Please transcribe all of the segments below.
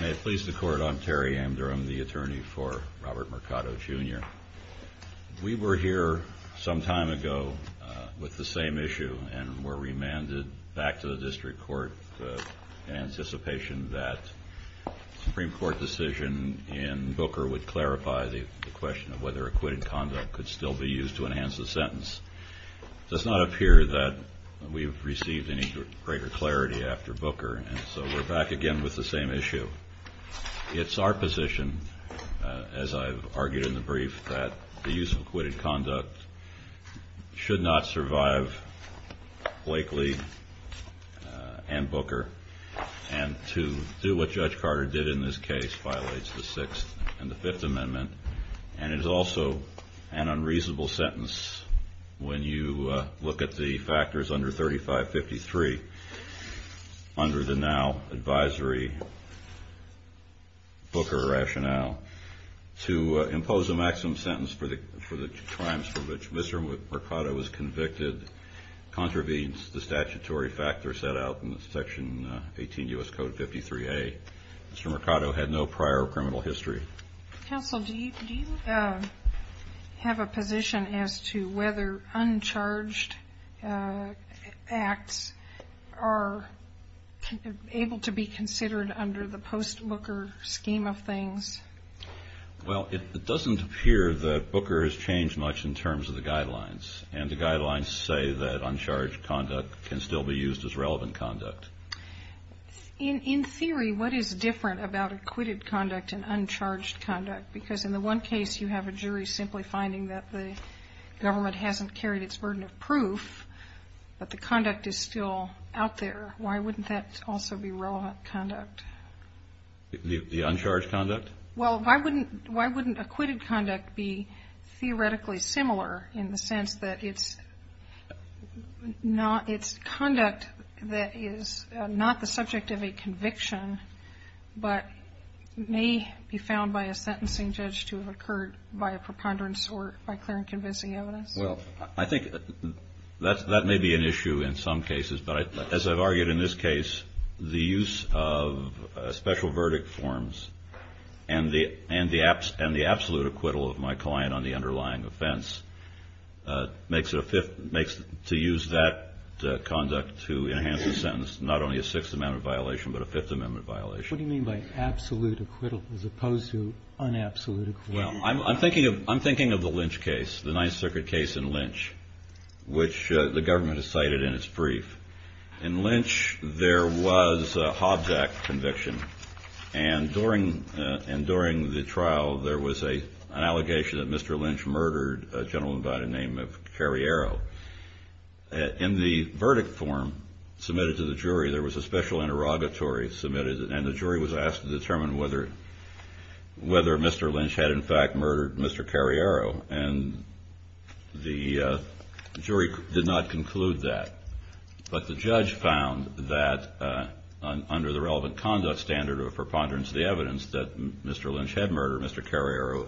May it please the Court, I'm Terry Amdurham, the attorney for Robert Mercado, Jr. We were here some time ago with the same issue and were remanded back to the District Court in anticipation that the Supreme Court decision in Booker would clarify the question of whether to enhance the sentence. It does not appear that we have received any greater clarity after Booker, and so we're back again with the same issue. It's our position, as I've argued in the brief, that the use of acquitted conduct should not survive Blakely and Booker, and to do what Judge Carter did in this case violates the Sixth and the Fifth Amendment, and is also an unreasonable sentence when you look at the factors under 3553 under the now advisory Booker rationale. To impose a maximum sentence for the crimes for which Mr. Mercado was convicted contravenes the statutory factor set out in Section 18 U.S. Code 53A. Mr. Mercado had no prior criminal history. Counsel, do you have a position as to whether uncharged acts are able to be considered under the post-Booker scheme of things? Well, it doesn't appear that Booker has changed much in terms of the guidelines, and the guidelines say that uncharged conduct can still be used as relevant conduct. In theory, what is different about acquitted conduct and uncharged conduct? Because in the one case, you have a jury simply finding that the government hasn't carried its burden of proof, but the conduct is still out there. Why wouldn't that also be relevant conduct? The uncharged conduct? Well, why wouldn't acquitted conduct be theoretically similar in the sense that it's conduct that is not the subject of a conviction, but may be found by a sentencing judge to have occurred by a preponderance or by clear and convincing evidence? Well, I think that may be an issue in some cases, but as I've argued in this case, the use of special verdict forms and the absolute acquittal of my client on the underlying offense makes it to use that conduct to enhance the sentence not only a Sixth Amendment violation, but a Fifth Amendment violation. What do you mean by absolute acquittal as opposed to un-absolute acquittal? Well, I'm thinking of the Lynch case, the Ninth Circuit case in Lynch, which the government has cited in its brief. In Lynch, there was a Hobbs Act conviction, and during the trial, there was an allegation that Mr. Lynch murdered a gentleman by the name of Carriero. In the verdict form submitted to the jury, there was a special interrogatory submitted, and the jury was asked to determine whether Mr. Lynch had, in fact, murdered Mr. Carriero, and the jury did not conclude that. But the judge found that under the relevant conduct standard or preponderance of the evidence that Mr. Lynch had murdered Mr. Carriero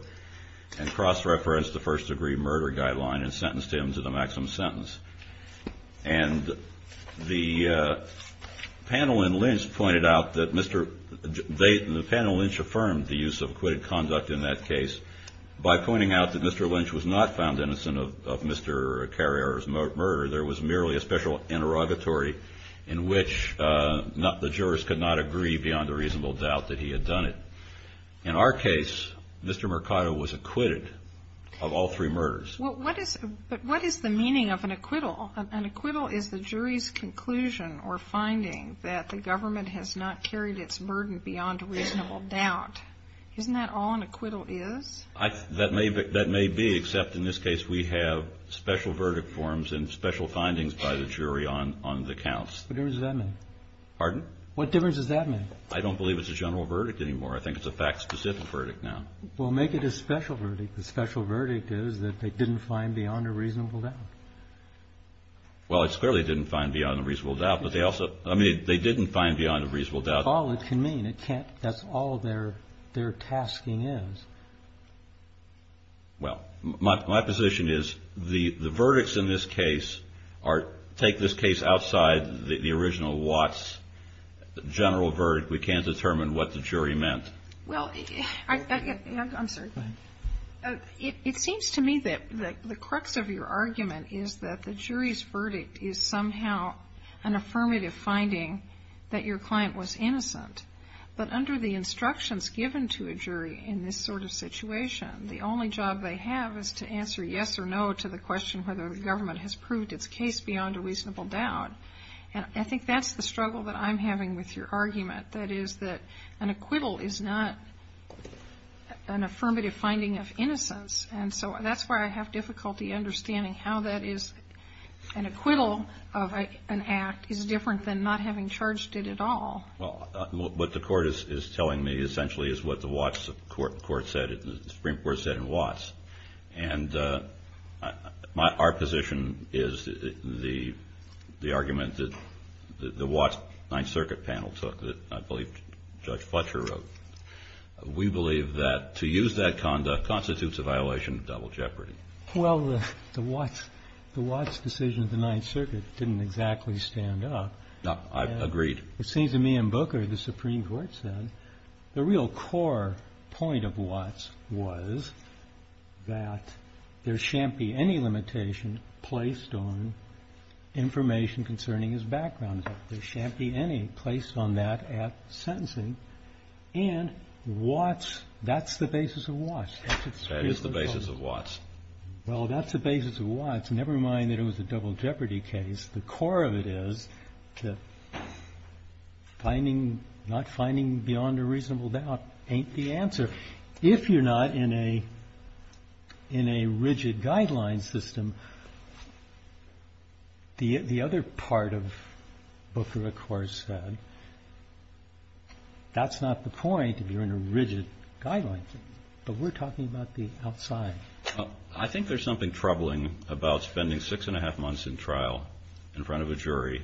and cross-referenced the first-degree murder guideline and sentenced him to the maximum sentence. And the panel in Lynch pointed out that Mr. Lynch affirmed the use of acquitted conduct in that case by pointing out that Mr. Lynch was not found innocent of Mr. Carriero's murder. There was merely a special interrogatory in which the jurors could not agree beyond a reasonable doubt that he had done it. In our case, Mr. Mercado was acquitted of all three murders. But what is the meaning of an acquittal? An acquittal is the jury's conclusion or finding that the government has not carried its burden beyond a reasonable doubt. Isn't that all an acquittal is? That may be, except in this case, we have special verdict forms and special findings by the jury on the counts. What difference does that make? Pardon? What difference does that make? I don't believe it's a general verdict anymore. I think it's a fact-specific verdict now. Well, make it a special verdict. The special verdict is that they didn't find beyond a reasonable doubt. Well, it clearly didn't find beyond a reasonable doubt, but they also – I mean, they didn't find beyond a reasonable doubt. But that's all it can mean. It can't – that's all their – their tasking is. Well, my – my position is the – the verdicts in this case are – take this case outside the original Watts general verdict, we can't determine what the jury meant. Well, I – I'm sorry. Go ahead. It seems to me that the crux of your argument is that the jury's verdict is somehow an affirmative finding that your client was innocent. But under the instructions given to a jury in this sort of situation, the only job they have is to answer yes or no to the question whether the government has proved its case beyond a reasonable doubt. And I think that's the struggle that I'm having with your argument. That is that an acquittal is not an affirmative finding of innocence, and so that's where I have difficulty understanding how that is – an acquittal of an act is different than not having charged it at all. Well, what the court is – is telling me essentially is what the Watts court said and the Supreme Court said in Watts. And my – our position is the – the argument that the Watts Ninth Circuit panel took, that I believe Judge Fletcher wrote, we believe that to use that conduct constitutes a violation of double jeopardy. Well, the Watts – the Watts decision of the Ninth Circuit didn't exactly stand up. No, I've agreed. It seems to me in Booker the Supreme Court said the real core point of Watts was that there shan't be any limitation placed on information concerning his background. There shan't be any placed on that at sentencing. And Watts – that's the basis of Watts. That is the basis of Watts. Well, that's the basis of Watts. Never mind that it was a double jeopardy case. The core of it is that finding – not finding beyond a reasonable doubt ain't the answer. If you're not in a – in a rigid guideline system, the other part of Booker, of course, said that's not the point if you're in a rigid guideline system, but we're talking about the outside. I think there's something troubling about spending six and a half months in trial in front of a jury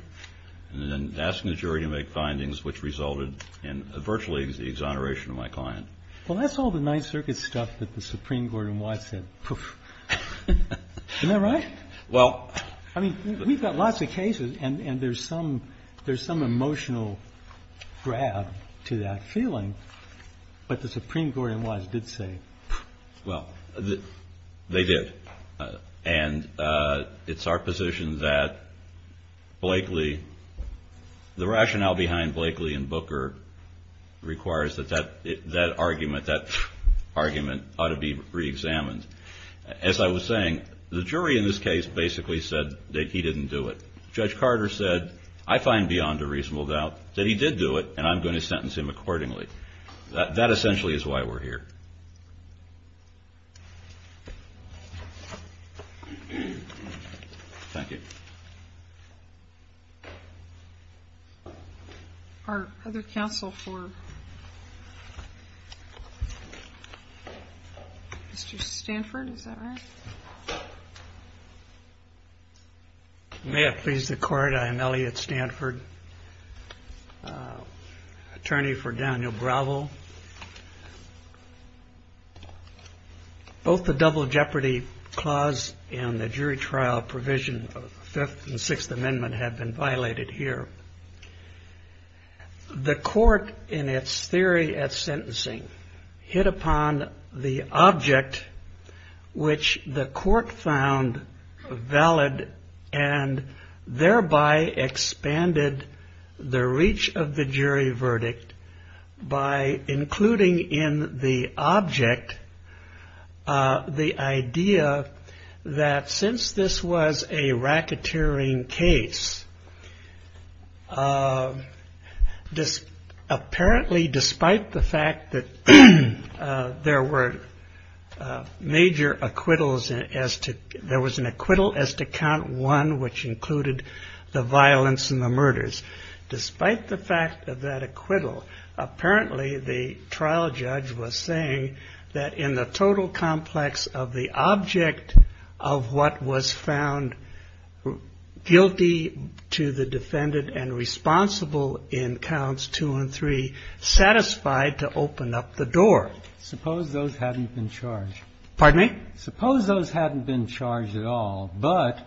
and then asking the jury to make findings which resulted in virtually the exoneration of my client. Well, that's all the Ninth Circuit stuff that the Supreme Court in Watts said. Isn't that right? Well – I mean, we've got lots of cases and there's some – there's some emotional grab to that feeling. But the Supreme Court in Watts did say. Well, they did. And it's our position that Blakely – the rationale behind Blakely and Booker requires that that – that argument – that argument ought to be reexamined. As I was saying, the jury in this case basically said that he didn't do it. Judge Carter said, I find beyond a reasonable doubt that he did do it and I'm going to sentence him accordingly. That essentially is why we're here. Thank you. Our other counsel for – Mr. Stanford, is that right? May it please the Court, I am Elliot Stanford, attorney for Daniel Bravo. Both the Double Jeopardy Clause and the jury trial provision of the Fifth and Sixth Amendment have been violated here. The court in its theory at sentencing hit upon the object which the court found valid and thereby expanded the reach of the jury verdict by including in the object the idea that since this was a racketeering case, apparently despite the fact that there were major acquittals as to – there was an acquittal as to count one which included the violence and the murders. Despite the fact of that acquittal, apparently the trial judge was saying that in the total complex of the object of what was found guilty to the defendant and responsible in counts two and three, satisfied to open up the door. Suppose those hadn't been charged. Pardon me? Suppose those hadn't been charged at all, but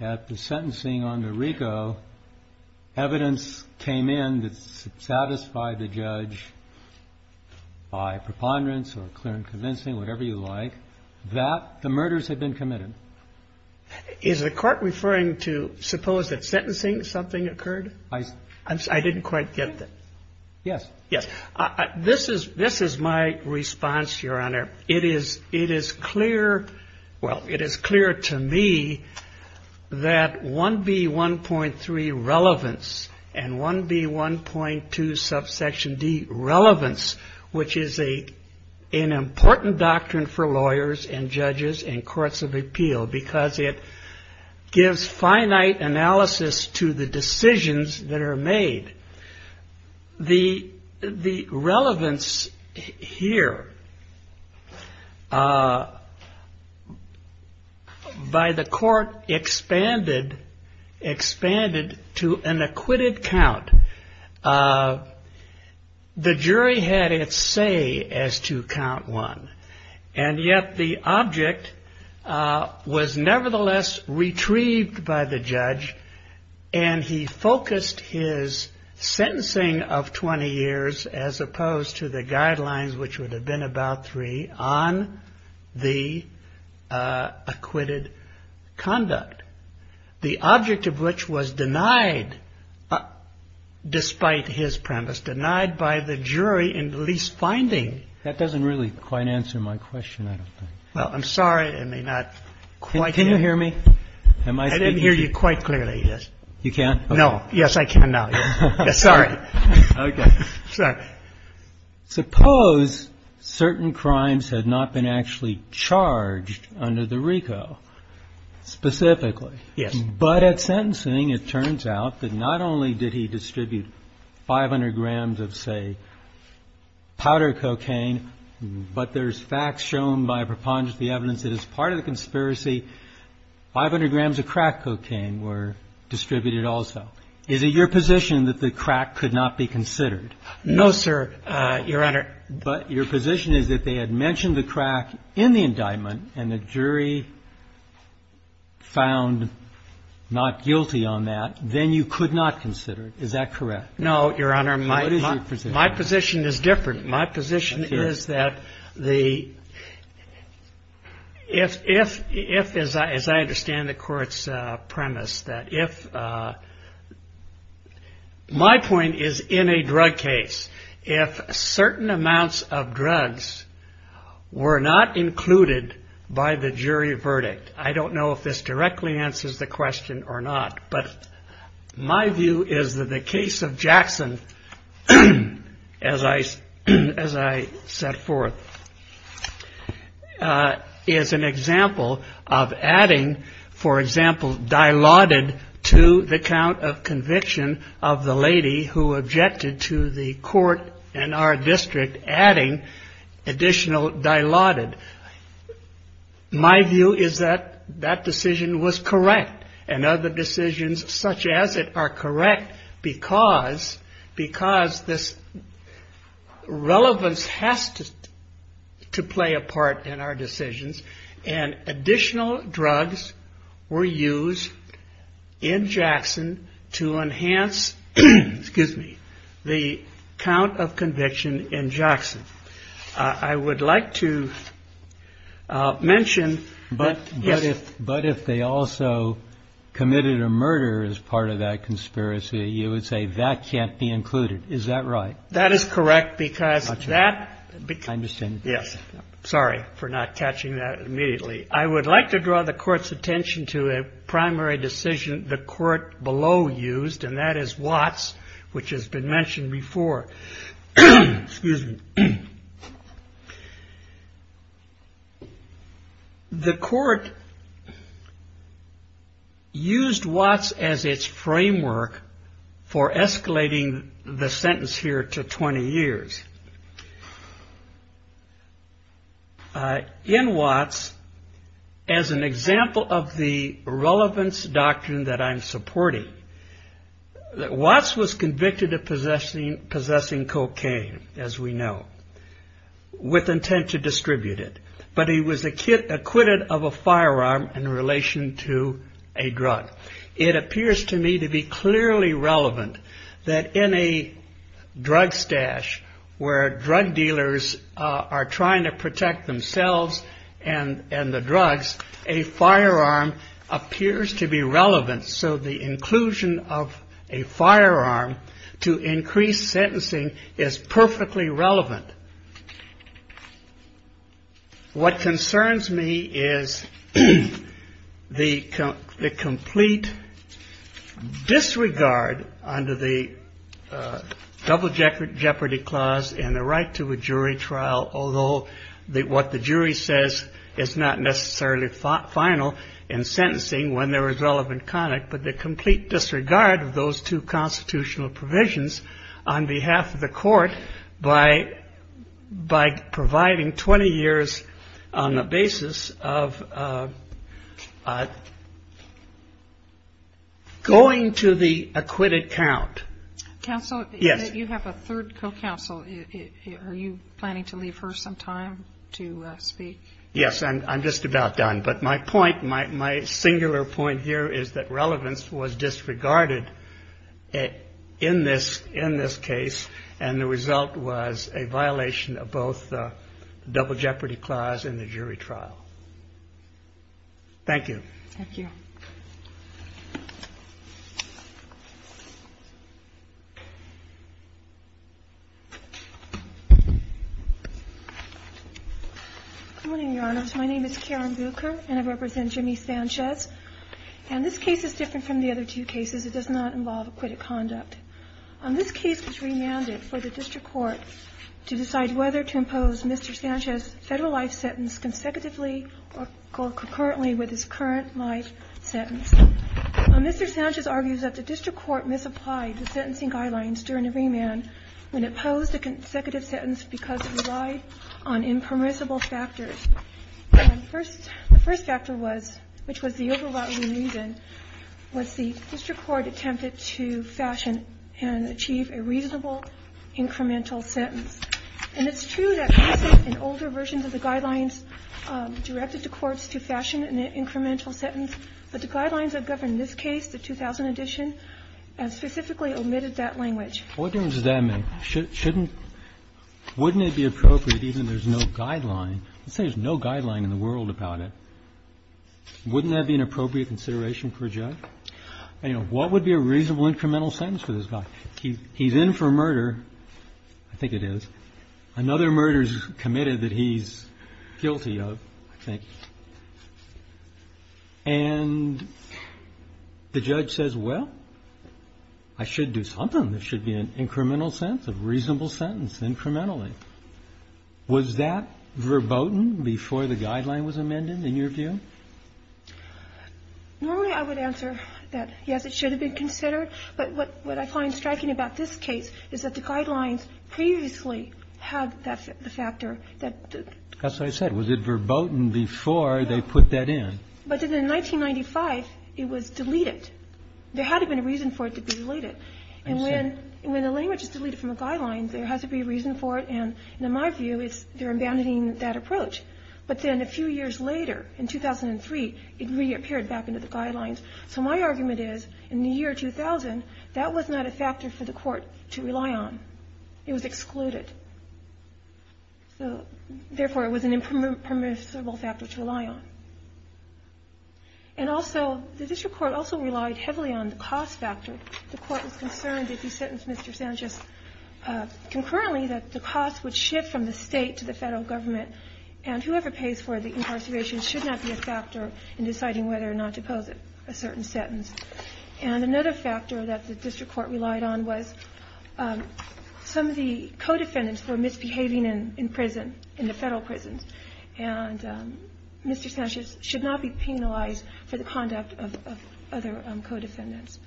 at the sentencing on DeRico, evidence came in that satisfied the judge by preponderance or clear and convincing, whatever you like, that the murders had been committed. Is the Court referring to suppose that sentencing something occurred? I didn't quite get that. Yes. Yes. This is my response, Your Honor. It is clear – well, it is clear to me that 1B1.3 relevance and 1B1.2 subsection D relevance, which is an important doctrine for lawyers and judges and courts of appeal because it gives finite analysis to the decisions that are made. The relevance here by the court expanded to an acquitted count. The jury had its say as to count one. And yet the object was nevertheless retrieved by the judge, and he focused his sentencing of 20 years as opposed to the guidelines, which would have been about three, on the acquitted conduct. The object of which was denied despite his premise, denied by the jury in the least finding. That doesn't really quite answer my question, I don't think. Well, I'm sorry. I may not quite. Can you hear me? I didn't hear you quite clearly, yes. You can? No. Yes, I can now. Sorry. Okay. Sorry. Suppose certain crimes had not been actually charged under the RICO specifically. Yes. But at sentencing, it turns out that not only did he distribute 500 grams of, say, powder cocaine, but there's facts shown by preponderance of the evidence that as part of the conspiracy, 500 grams of crack cocaine were distributed also. Is it your position that the crack could not be considered? No, sir, Your Honor. But your position is that they had mentioned the crack in the indictment, and the jury found not guilty on that, then you could not consider it. Is that correct? No, Your Honor. My position is different. My position is that if, as I understand the court's premise, that if my point is in a drug case, if certain amounts of drugs were not included by the jury verdict, I don't know if this directly answers the question or not, but my view is that the case of Jackson, as I set forth, is an example of adding, for example, dilaudid to the count of conviction of the lady who objected to the court and our district adding additional dilaudid. My view is that that decision was correct, and other decisions such as it are correct, because this relevance has to play a part in our decisions, and additional drugs were used in Jackson to enhance the count of conviction in Jackson. I would like to mention that, yes. But if they also committed a murder as part of that conspiracy, you would say that can't be included. Is that right? That is correct, because that becomes – I understand. Yes. Sorry for not catching that immediately. I would like to draw the Court's attention to a primary decision the Court below used, and that is Watts, which has been mentioned before. Excuse me. The Court used Watts as its framework for escalating the sentence here to 20 years. In Watts, as an example of the relevance doctrine that I'm supporting, Watts was convicted of possessing cocaine, as we know, with intent to distribute it, but he was acquitted of a firearm in relation to a drug. It appears to me to be clearly relevant that in a drug stash where drug dealers are trying to protect themselves and the drugs, a firearm appears to be relevant. So the inclusion of a firearm to increase sentencing is perfectly relevant. What concerns me is the complete disregard under the Double Jeopardy Clause and the right to a jury trial, although what the jury says is not necessarily final in sentencing when there is relevant conduct, but the complete disregard of those two constitutional provisions on behalf of the Court by providing 20 years on the basis of going to the acquitted count. Counsel? Yes. You have a third co-counsel. Are you planning to leave her some time to speak? Yes, I'm just about done. But my point, my singular point here is that relevance was disregarded in this case, and the result was a violation of both the Double Jeopardy Clause and the jury trial. Thank you. Good morning, Your Honors. My name is Karen Bucher, and I represent Jimmy Sanchez. And this case is different from the other two cases. It does not involve acquitted conduct. This case was remanded for the district court to decide whether to impose Mr. Sanchez's federal life sentence consecutively or concurrently with his current life sentence. Mr. Sanchez argues that the district court misapplied the sentencing guidelines during the remand when it posed a consecutive sentence because it relied on impermissible factors. The first factor was, which was the overriding reason, was the district court attempted to fashion and achieve a reasonable incremental sentence. And it's true that recent and older versions of the guidelines directed the courts to fashion an incremental sentence, but the guidelines that govern this case, the 2000 edition, specifically omitted that language. What difference does that make? Shouldn't – wouldn't it be appropriate even if there's no guideline? Let's say there's no guideline in the world about it. Wouldn't that be an appropriate consideration for a judge? You know, what would be a reasonable incremental sentence for this guy? He's in for murder. I think it is. Another murder is committed that he's guilty of, I think. And the judge says, well, I should do something. There should be an incremental sentence, a reasonable sentence incrementally. Was that verboten before the guideline was amended, in your view? Normally, I would answer that, yes, it should have been considered. But what I find striking about this case is that the guidelines previously had the factor that the – That's what I said. Was it verboten before they put that in? But in 1995, it was deleted. There had to have been a reason for it to be deleted. I see. And when the language is deleted from the guidelines, there has to be a reason for it, and in my view, they're abandoning that approach. But then a few years later, in 2003, it reappeared back into the guidelines. So my argument is, in the year 2000, that was not a factor for the court to rely on. It was excluded. So, therefore, it was an impermissible factor to rely on. And also, the district court also relied heavily on the cost factor. The court was concerned that if he sentenced Mr. Sanchez concurrently, that the cost would shift from the State to the Federal Government, and whoever pays for the incarceration should not be a factor in deciding whether or not to pose a certain sentence. And another factor that the district court relied on was some of the co-defendants were misbehaving in prison, in the Federal prisons, and Mr. Sanchez should not be penalized for the conduct of other co-defendants.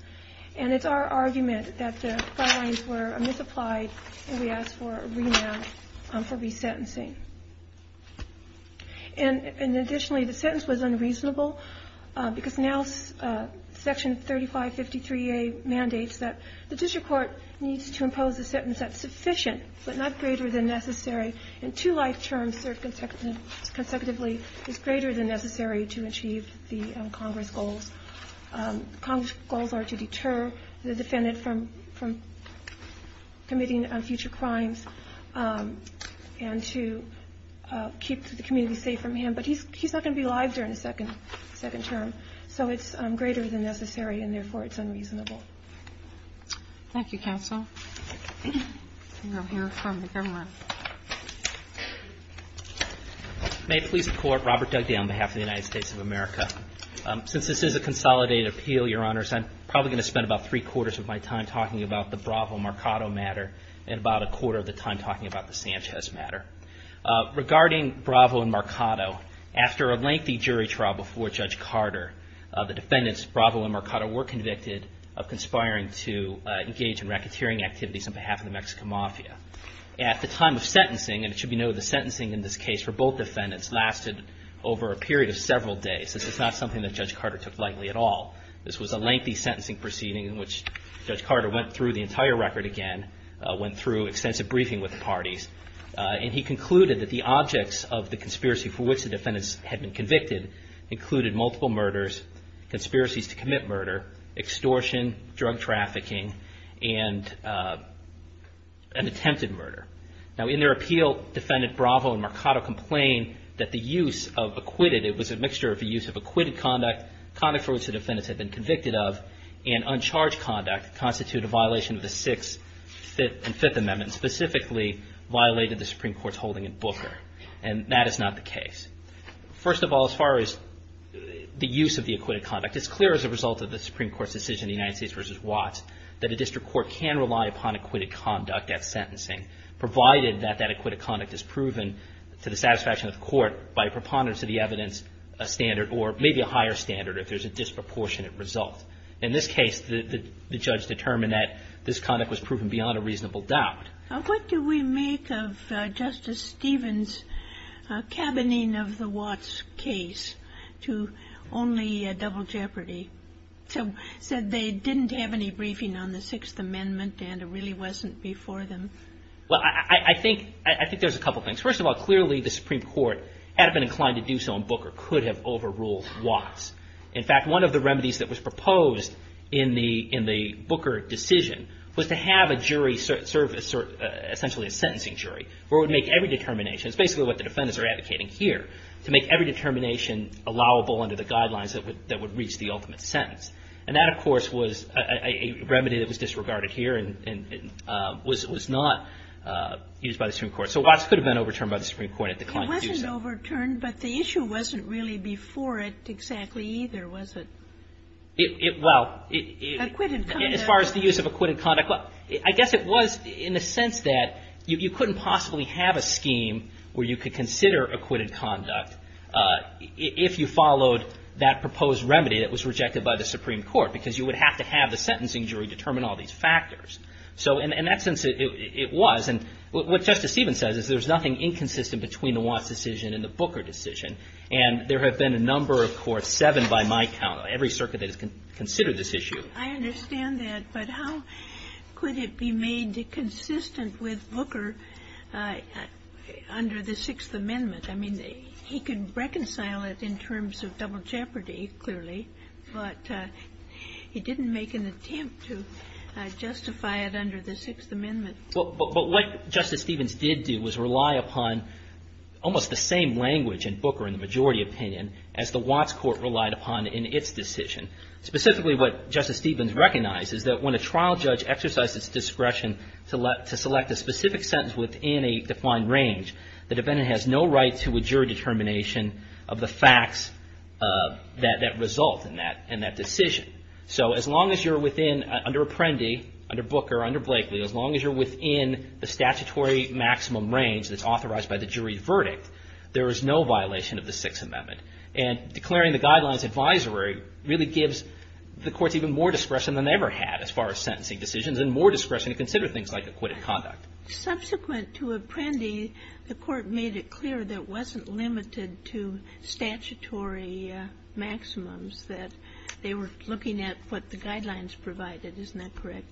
And it's our argument that the guidelines were misapplied, and we asked for a remand for resentencing. And additionally, the sentence was unreasonable, because now Section 3553A mandates that the district court needs to impose a sentence that's sufficient, but not greater than necessary, and two life terms served consecutively is greater than necessary to achieve the Congress goals. Congress goals are to deter the defendant from committing future crimes, and to impose to keep the community safe from him, but he's not going to be alive during his second term. So it's greater than necessary, and therefore it's unreasonable. Thank you, Counsel. We'll hear from the Governor. May it please the Court, Robert Dugdale on behalf of the United States of America. Since this is a consolidated appeal, Your Honors, I'm probably going to spend about three-quarters of my time talking about the Bravo-Marcado matter, and about a quarter of the time talking about the Sanchez matter. Regarding Bravo and Marcado, after a lengthy jury trial before Judge Carter, the defendants, Bravo and Marcado, were convicted of conspiring to engage in racketeering activities on behalf of the Mexican Mafia. At the time of sentencing, and it should be noted the sentencing in this case for both defendants lasted over a period of several days. This is not something that Judge Carter took lightly at all. And he concluded that the objects of the conspiracy for which the defendants had been convicted included multiple murders, conspiracies to commit murder, extortion, drug trafficking, and an attempted murder. Now in their appeal, Defendant Bravo and Marcado complained that the use of acquitted, it was a mixture of the use of acquitted conduct, conduct for which the defendants had been convicted of, and uncharged conduct constituted a violation of the Sixth and Fifth Amendments, and specifically violated the Supreme Court's holding in Booker. And that is not the case. First of all, as far as the use of the acquitted conduct, it's clear as a result of the Supreme Court's decision in the United States v. Watts that a district court can rely upon acquitted conduct at sentencing, provided that that acquitted conduct is proven to the satisfaction of the court by a preponderance of the evidence, a standard, or maybe a higher standard if there's a disproportionate result. In this case, the judge determined that this conduct was proven beyond a reasonable doubt. What do we make of Justice Stevens' cabining of the Watts case to only double jeopardy, to say they didn't have any briefing on the Sixth Amendment and it really wasn't before them? Well, I think there's a couple things. First of all, clearly the Supreme Court had been inclined to do so in Booker, could have overruled Watts. In fact, one of the remedies that was proposed in the Booker decision was to have a jury serve essentially a sentencing jury where it would make every determination. It's basically what the defendants are advocating here, to make every determination allowable under the guidelines that would reach the ultimate sentence. And that, of course, was a remedy that was disregarded here and was not used by the Supreme Court. So Watts could have been overturned by the Supreme Court. It declined to do so. It was overturned, but the issue wasn't really before it exactly either, was it? Well, as far as the use of acquitted conduct, I guess it was in the sense that you couldn't possibly have a scheme where you could consider acquitted conduct if you followed that proposed remedy that was rejected by the Supreme Court, because you would have to have the sentencing jury determine all these factors. So in that sense, it was. And what Justice Stevens says is there's nothing inconsistent between the Watts decision and the Booker decision. And there have been a number, of course, seven by my count of every circuit that has considered this issue. I understand that, but how could it be made consistent with Booker under the Sixth Amendment? I mean, he could reconcile it in terms of double jeopardy, clearly, but he didn't make an attempt to justify it under the Sixth Amendment. But what Justice Stevens did do was rely upon almost the same language in Booker in the majority opinion as the Watts court relied upon in its decision. Specifically, what Justice Stevens recognized is that when a trial judge exercised its discretion to select a specific sentence within a defined range, the defendant has no right to a jury determination of the facts that result in that decision. So as long as you're within, under Apprendi, under Booker, under Blakely, as long as you're within the statutory maximum range that's authorized by the jury verdict, there is no violation of the Sixth Amendment. And declaring the guidelines advisory really gives the courts even more discretion than they ever had as far as sentencing decisions and more discretion to consider things like acquitted conduct. Subsequent to Apprendi, the court made it clear that it wasn't limited to statutory maximums, that they were looking at what the guidelines provided. Isn't that correct?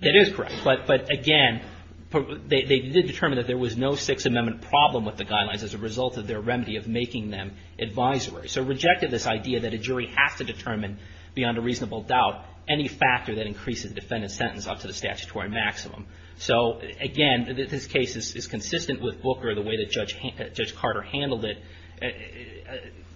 That is correct. But again, they did determine that there was no Sixth Amendment problem with the guidelines as a result of their remedy of making them advisory. So rejected this idea that a jury has to determine beyond a reasonable doubt any factor that increases the defendant's sentence up to the statutory maximum. So again, this case is consistent with Booker, the way that Judge Carter handled it,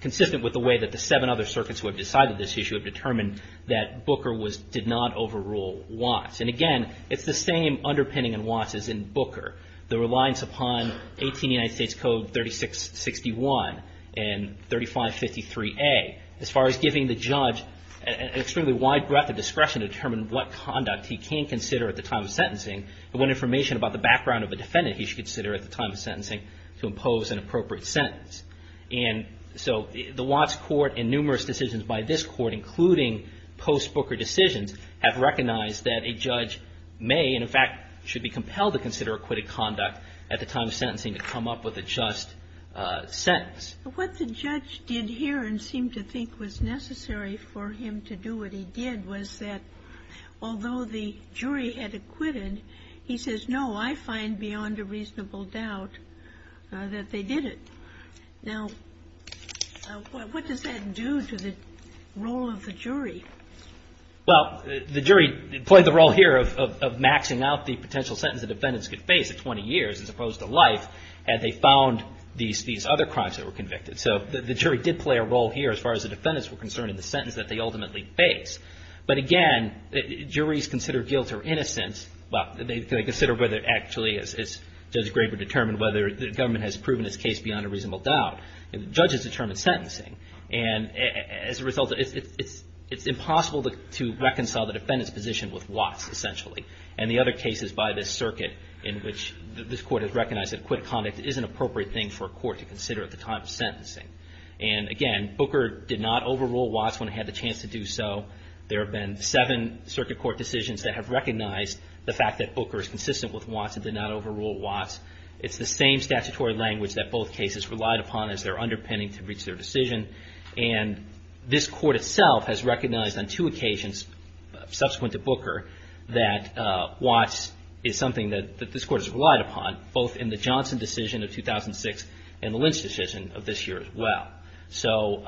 consistent with the way that the seven other circuits who have decided this issue have determined that Booker did not overrule Watts. And again, it's the same underpinning in Watts as in Booker, the reliance upon 18 United States Code 3661 and 3553A as far as giving the judge an extremely wide breadth of discretion to determine what conduct he can consider at the time of sentencing and what information about the background of the defendant he should consider at the time of sentencing to impose an appropriate sentence. And so the Watts court and numerous decisions by this court, including post-Booker decisions, have recognized that a judge may, and in fact should be compelled to consider acquitted conduct at the time of sentencing to come up with a just sentence. But what the judge did here and seemed to think was necessary for him to do what he did was that although the jury had acquitted, he says, no, I find beyond a reasonable doubt that they did it. Now, what does that do to the role of the jury? Well, the jury played the role here of maxing out the potential sentence the defendants could face at 20 years as opposed to life had they found these other crimes that were convicted. So the jury did play a role here as far as the defendants were concerned in the sentence that they ultimately faced. But again, juries consider guilt or innocence. Well, they consider whether actually, as Judge Graber determined, whether the judges determined sentencing. And as a result, it's impossible to reconcile the defendant's position with Watts, essentially. And the other cases by this circuit in which this court has recognized that acquitted conduct is an appropriate thing for a court to consider at the time of sentencing. And again, Booker did not overrule Watts when he had the chance to do so. There have been seven circuit court decisions that have recognized the fact that Booker is consistent with Watts and did not overrule Watts. It's the same statutory language that both cases relied upon as their underpinning to reach their decision. And this court itself has recognized on two occasions subsequent to Booker that Watts is something that this court has relied upon, both in the Johnson decision of 2006 and the Lynch decision of this year as well. So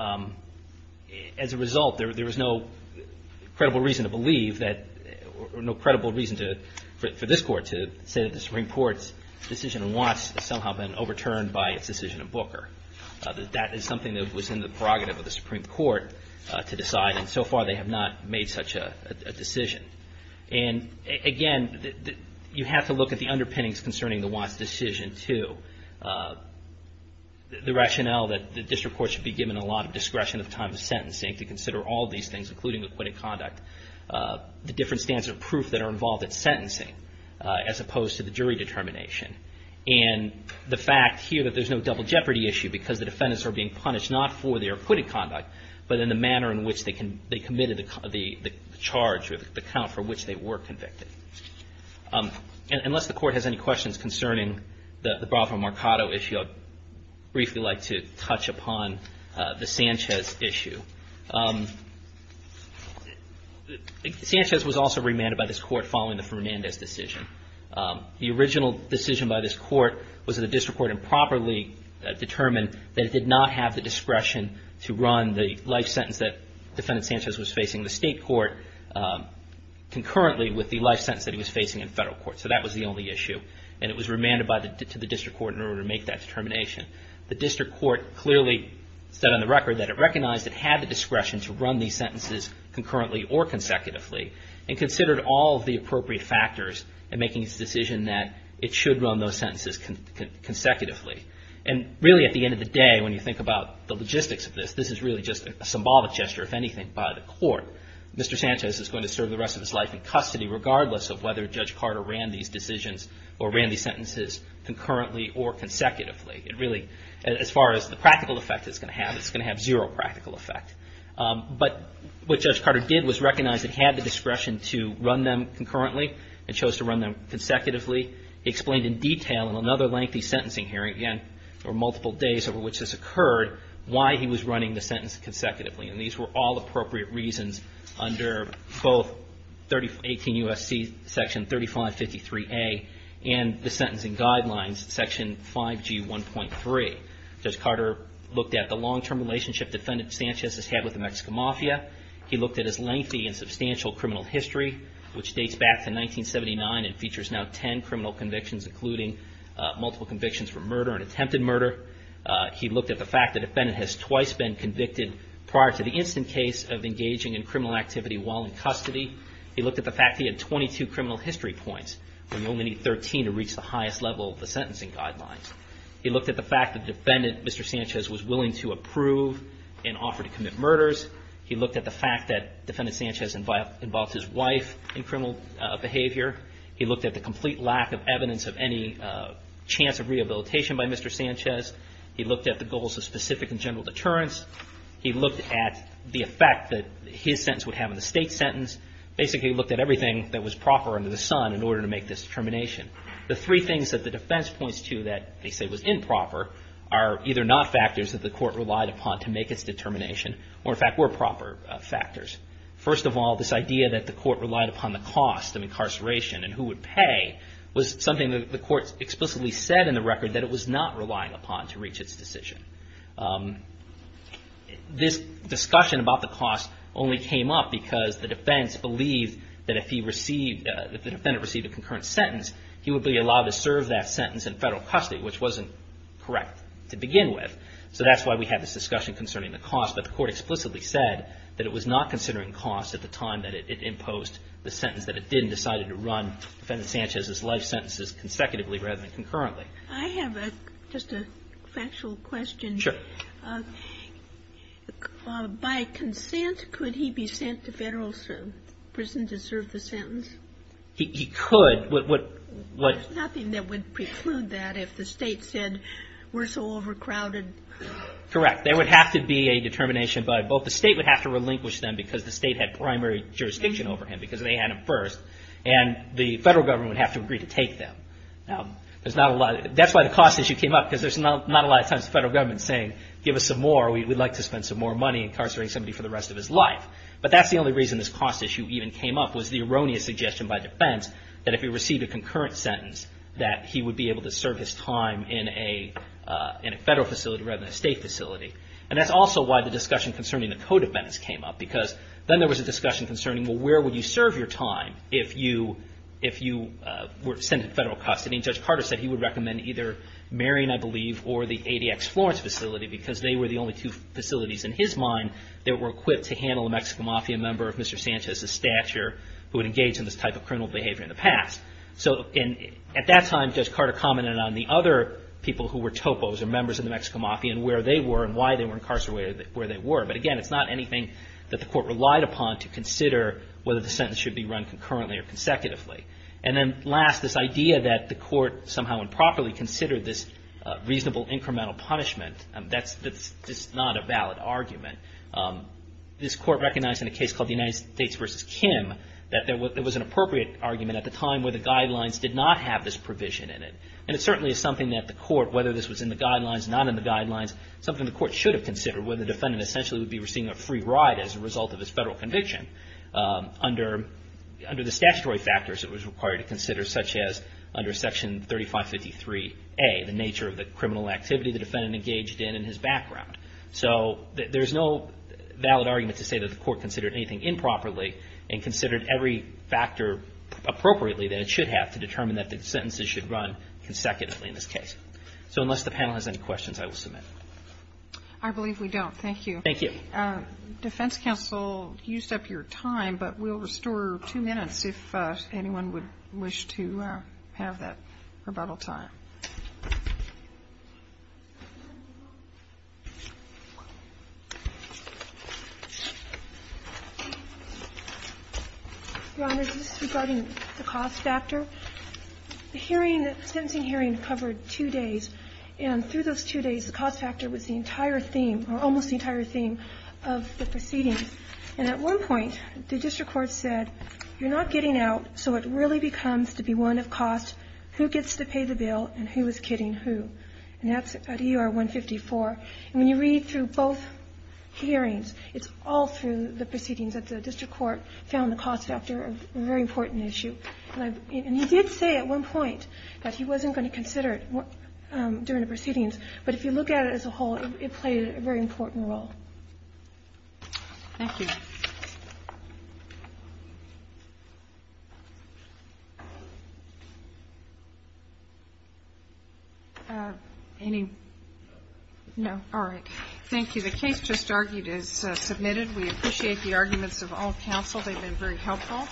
as a result, there was no credible reason to believe that or no credible reason for this court to say that the Supreme Court's decision on Watts has somehow been overturned by its decision on Booker. That is something that was in the prerogative of the Supreme Court to decide, and so far they have not made such a decision. And again, you have to look at the underpinnings concerning the Watts decision too. The rationale that the district court should be given a lot of discretion at the time of sentencing to consider all these things, including acquitted conduct. The different stands of proof that are involved at sentencing as opposed to the jury determination. And the fact here that there's no double jeopardy issue because the defendants are being punished not for their acquitted conduct, but in the manner in which they committed the charge or the count for which they were convicted. Unless the court has any questions concerning the Bravo-Marcado issue, I'd briefly like to touch upon the Sanchez issue. Sanchez was also remanded by this court following the Fernandez decision. The original decision by this court was that the district court improperly determined that it did not have the discretion to run the life sentence that defendant Sanchez was facing in the state court concurrently with the life sentence that he was facing in federal court. So that was the only issue, and it was remanded to the district court in order to make that determination. The district court clearly said on the record that it recognized it had the And considered all of the appropriate factors in making its decision that it should run those sentences consecutively. And really at the end of the day, when you think about the logistics of this, this is really just a symbolic gesture, if anything, by the court. Mr. Sanchez is going to serve the rest of his life in custody regardless of whether Judge Carter ran these decisions or ran these sentences concurrently or consecutively. It really, as far as the practical effect it's going to have, it's going to have zero practical effect. But what Judge Carter did was recognize it had the discretion to run them concurrently and chose to run them consecutively. He explained in detail in another lengthy sentencing hearing, again, or multiple days over which this occurred, why he was running the sentence consecutively. And these were all appropriate reasons under both 18 U.S.C. section 3553A and the sentencing guidelines, section 5G1.3. Judge Carter looked at the long-term relationship Defendant Sanchez has had with the Mexican Mafia. He looked at his lengthy and substantial criminal history, which dates back to 1979 and features now ten criminal convictions, including multiple convictions for murder and attempted murder. He looked at the fact the defendant has twice been convicted prior to the instant case of engaging in criminal activity while in custody. He looked at the fact he had 22 criminal history points when you only need 13 to reach the highest level of the sentencing guidelines. He looked at the fact the defendant, Mr. Sanchez, was willing to approve and offer to commit murders. He looked at the fact that Defendant Sanchez involved his wife in criminal behavior. He looked at the complete lack of evidence of any chance of rehabilitation by Mr. Sanchez. He looked at the goals of specific and general deterrence. He looked at the effect that his sentence would have on the State's sentence. Basically, he looked at everything that was proper under the sun in order to make this determination. The three things that the defense points to that they say was improper are either not factors that the court relied upon to make its determination or, in fact, were proper factors. First of all, this idea that the court relied upon the cost of incarceration and who would pay was something that the court explicitly said in the record that it was not relying upon to reach its decision. This discussion about the cost only came up because the defense believed that if the defendant received a concurrent sentence, he would be allowed to serve that sentence in federal custody, which wasn't correct to begin with. So that's why we had this discussion concerning the cost, but the court explicitly said that it was not considering cost at the time that it imposed the sentence that it did and decided to run Defendant Sanchez's life sentences consecutively rather than concurrently. I have just a factual question. Sure. By consent, could he be sent to federal prison to serve the sentence? He could. There's nothing that would preclude that if the state said we're so overcrowded. Correct. There would have to be a determination by both the state would have to relinquish them because the state had primary jurisdiction over him because they had him first and the federal government would have to agree to take them. That's why the cost issue came up because there's not a lot of times the federal government is saying give us some more, we'd like to spend some more money incarcerating somebody for the rest of his life. But that's the only reason this cost issue even came up was the erroneous suggestion by defense that if he received a concurrent sentence that he would be able to serve his time in a federal facility rather than a state facility. And that's also why the discussion concerning the code of benefits came up because then there was a discussion concerning, well, where would you serve your time if you were sent in federal custody? And Judge Carter said he would recommend either Marion, I believe, or the ADX Florence facility because they were the only two facilities in his mind that were equipped to handle a Mexican Mafia member of Mr. Sanchez's stature who had engaged in this type of criminal behavior in the past. So at that time, Judge Carter commented on the other people who were topos or members of the Mexican Mafia and where they were and why they were incarcerated where they were. But again, it's not anything that the court relied upon to consider whether the sentence should be run concurrently or consecutively. And then last, this idea that the court somehow improperly considered this reasonable incremental punishment, that's just not a valid argument. This court recognized in a case called the United States v. Kim that there was an appropriate argument at the time where the guidelines did not have this provision in it. And it certainly is something that the court, whether this was in the guidelines or not in the guidelines, something the court should have considered where the defendant essentially would be receiving a free ride as a result of his federal conviction under the statutory factors it was required to consider, such as under Section 3553A, the nature of the criminal activity the defendant engaged in and his background. So there's no valid argument to say that the court considered anything improperly and considered every factor appropriately that it should have to determine that the sentences should run consecutively in this case. So unless the panel has any questions, I will submit. I believe we don't. Thank you. Thank you. Defense counsel used up your time, but we'll restore two minutes if anyone would wish to have that rebuttal time. Your Honor, this is regarding the cost factor. The hearing, the sentencing hearing covered two days, and through those two days the cost factor was the entire theme or almost the entire theme of the proceedings. And at one point the district court said you're not getting out, so it really becomes to be one of cost, who gets to pay the bill and who is kidding who. And that's at ER 154. And when you read through both hearings, it's all through the proceedings that the district court found the cost factor a very important issue. And he did say at one point that he wasn't going to consider it during the proceedings, but if you look at it as a whole, it played a very important role. Thank you. Any? No. All right. Thank you. The case just argued is submitted. We appreciate the arguments of all counsel. They've been very helpful.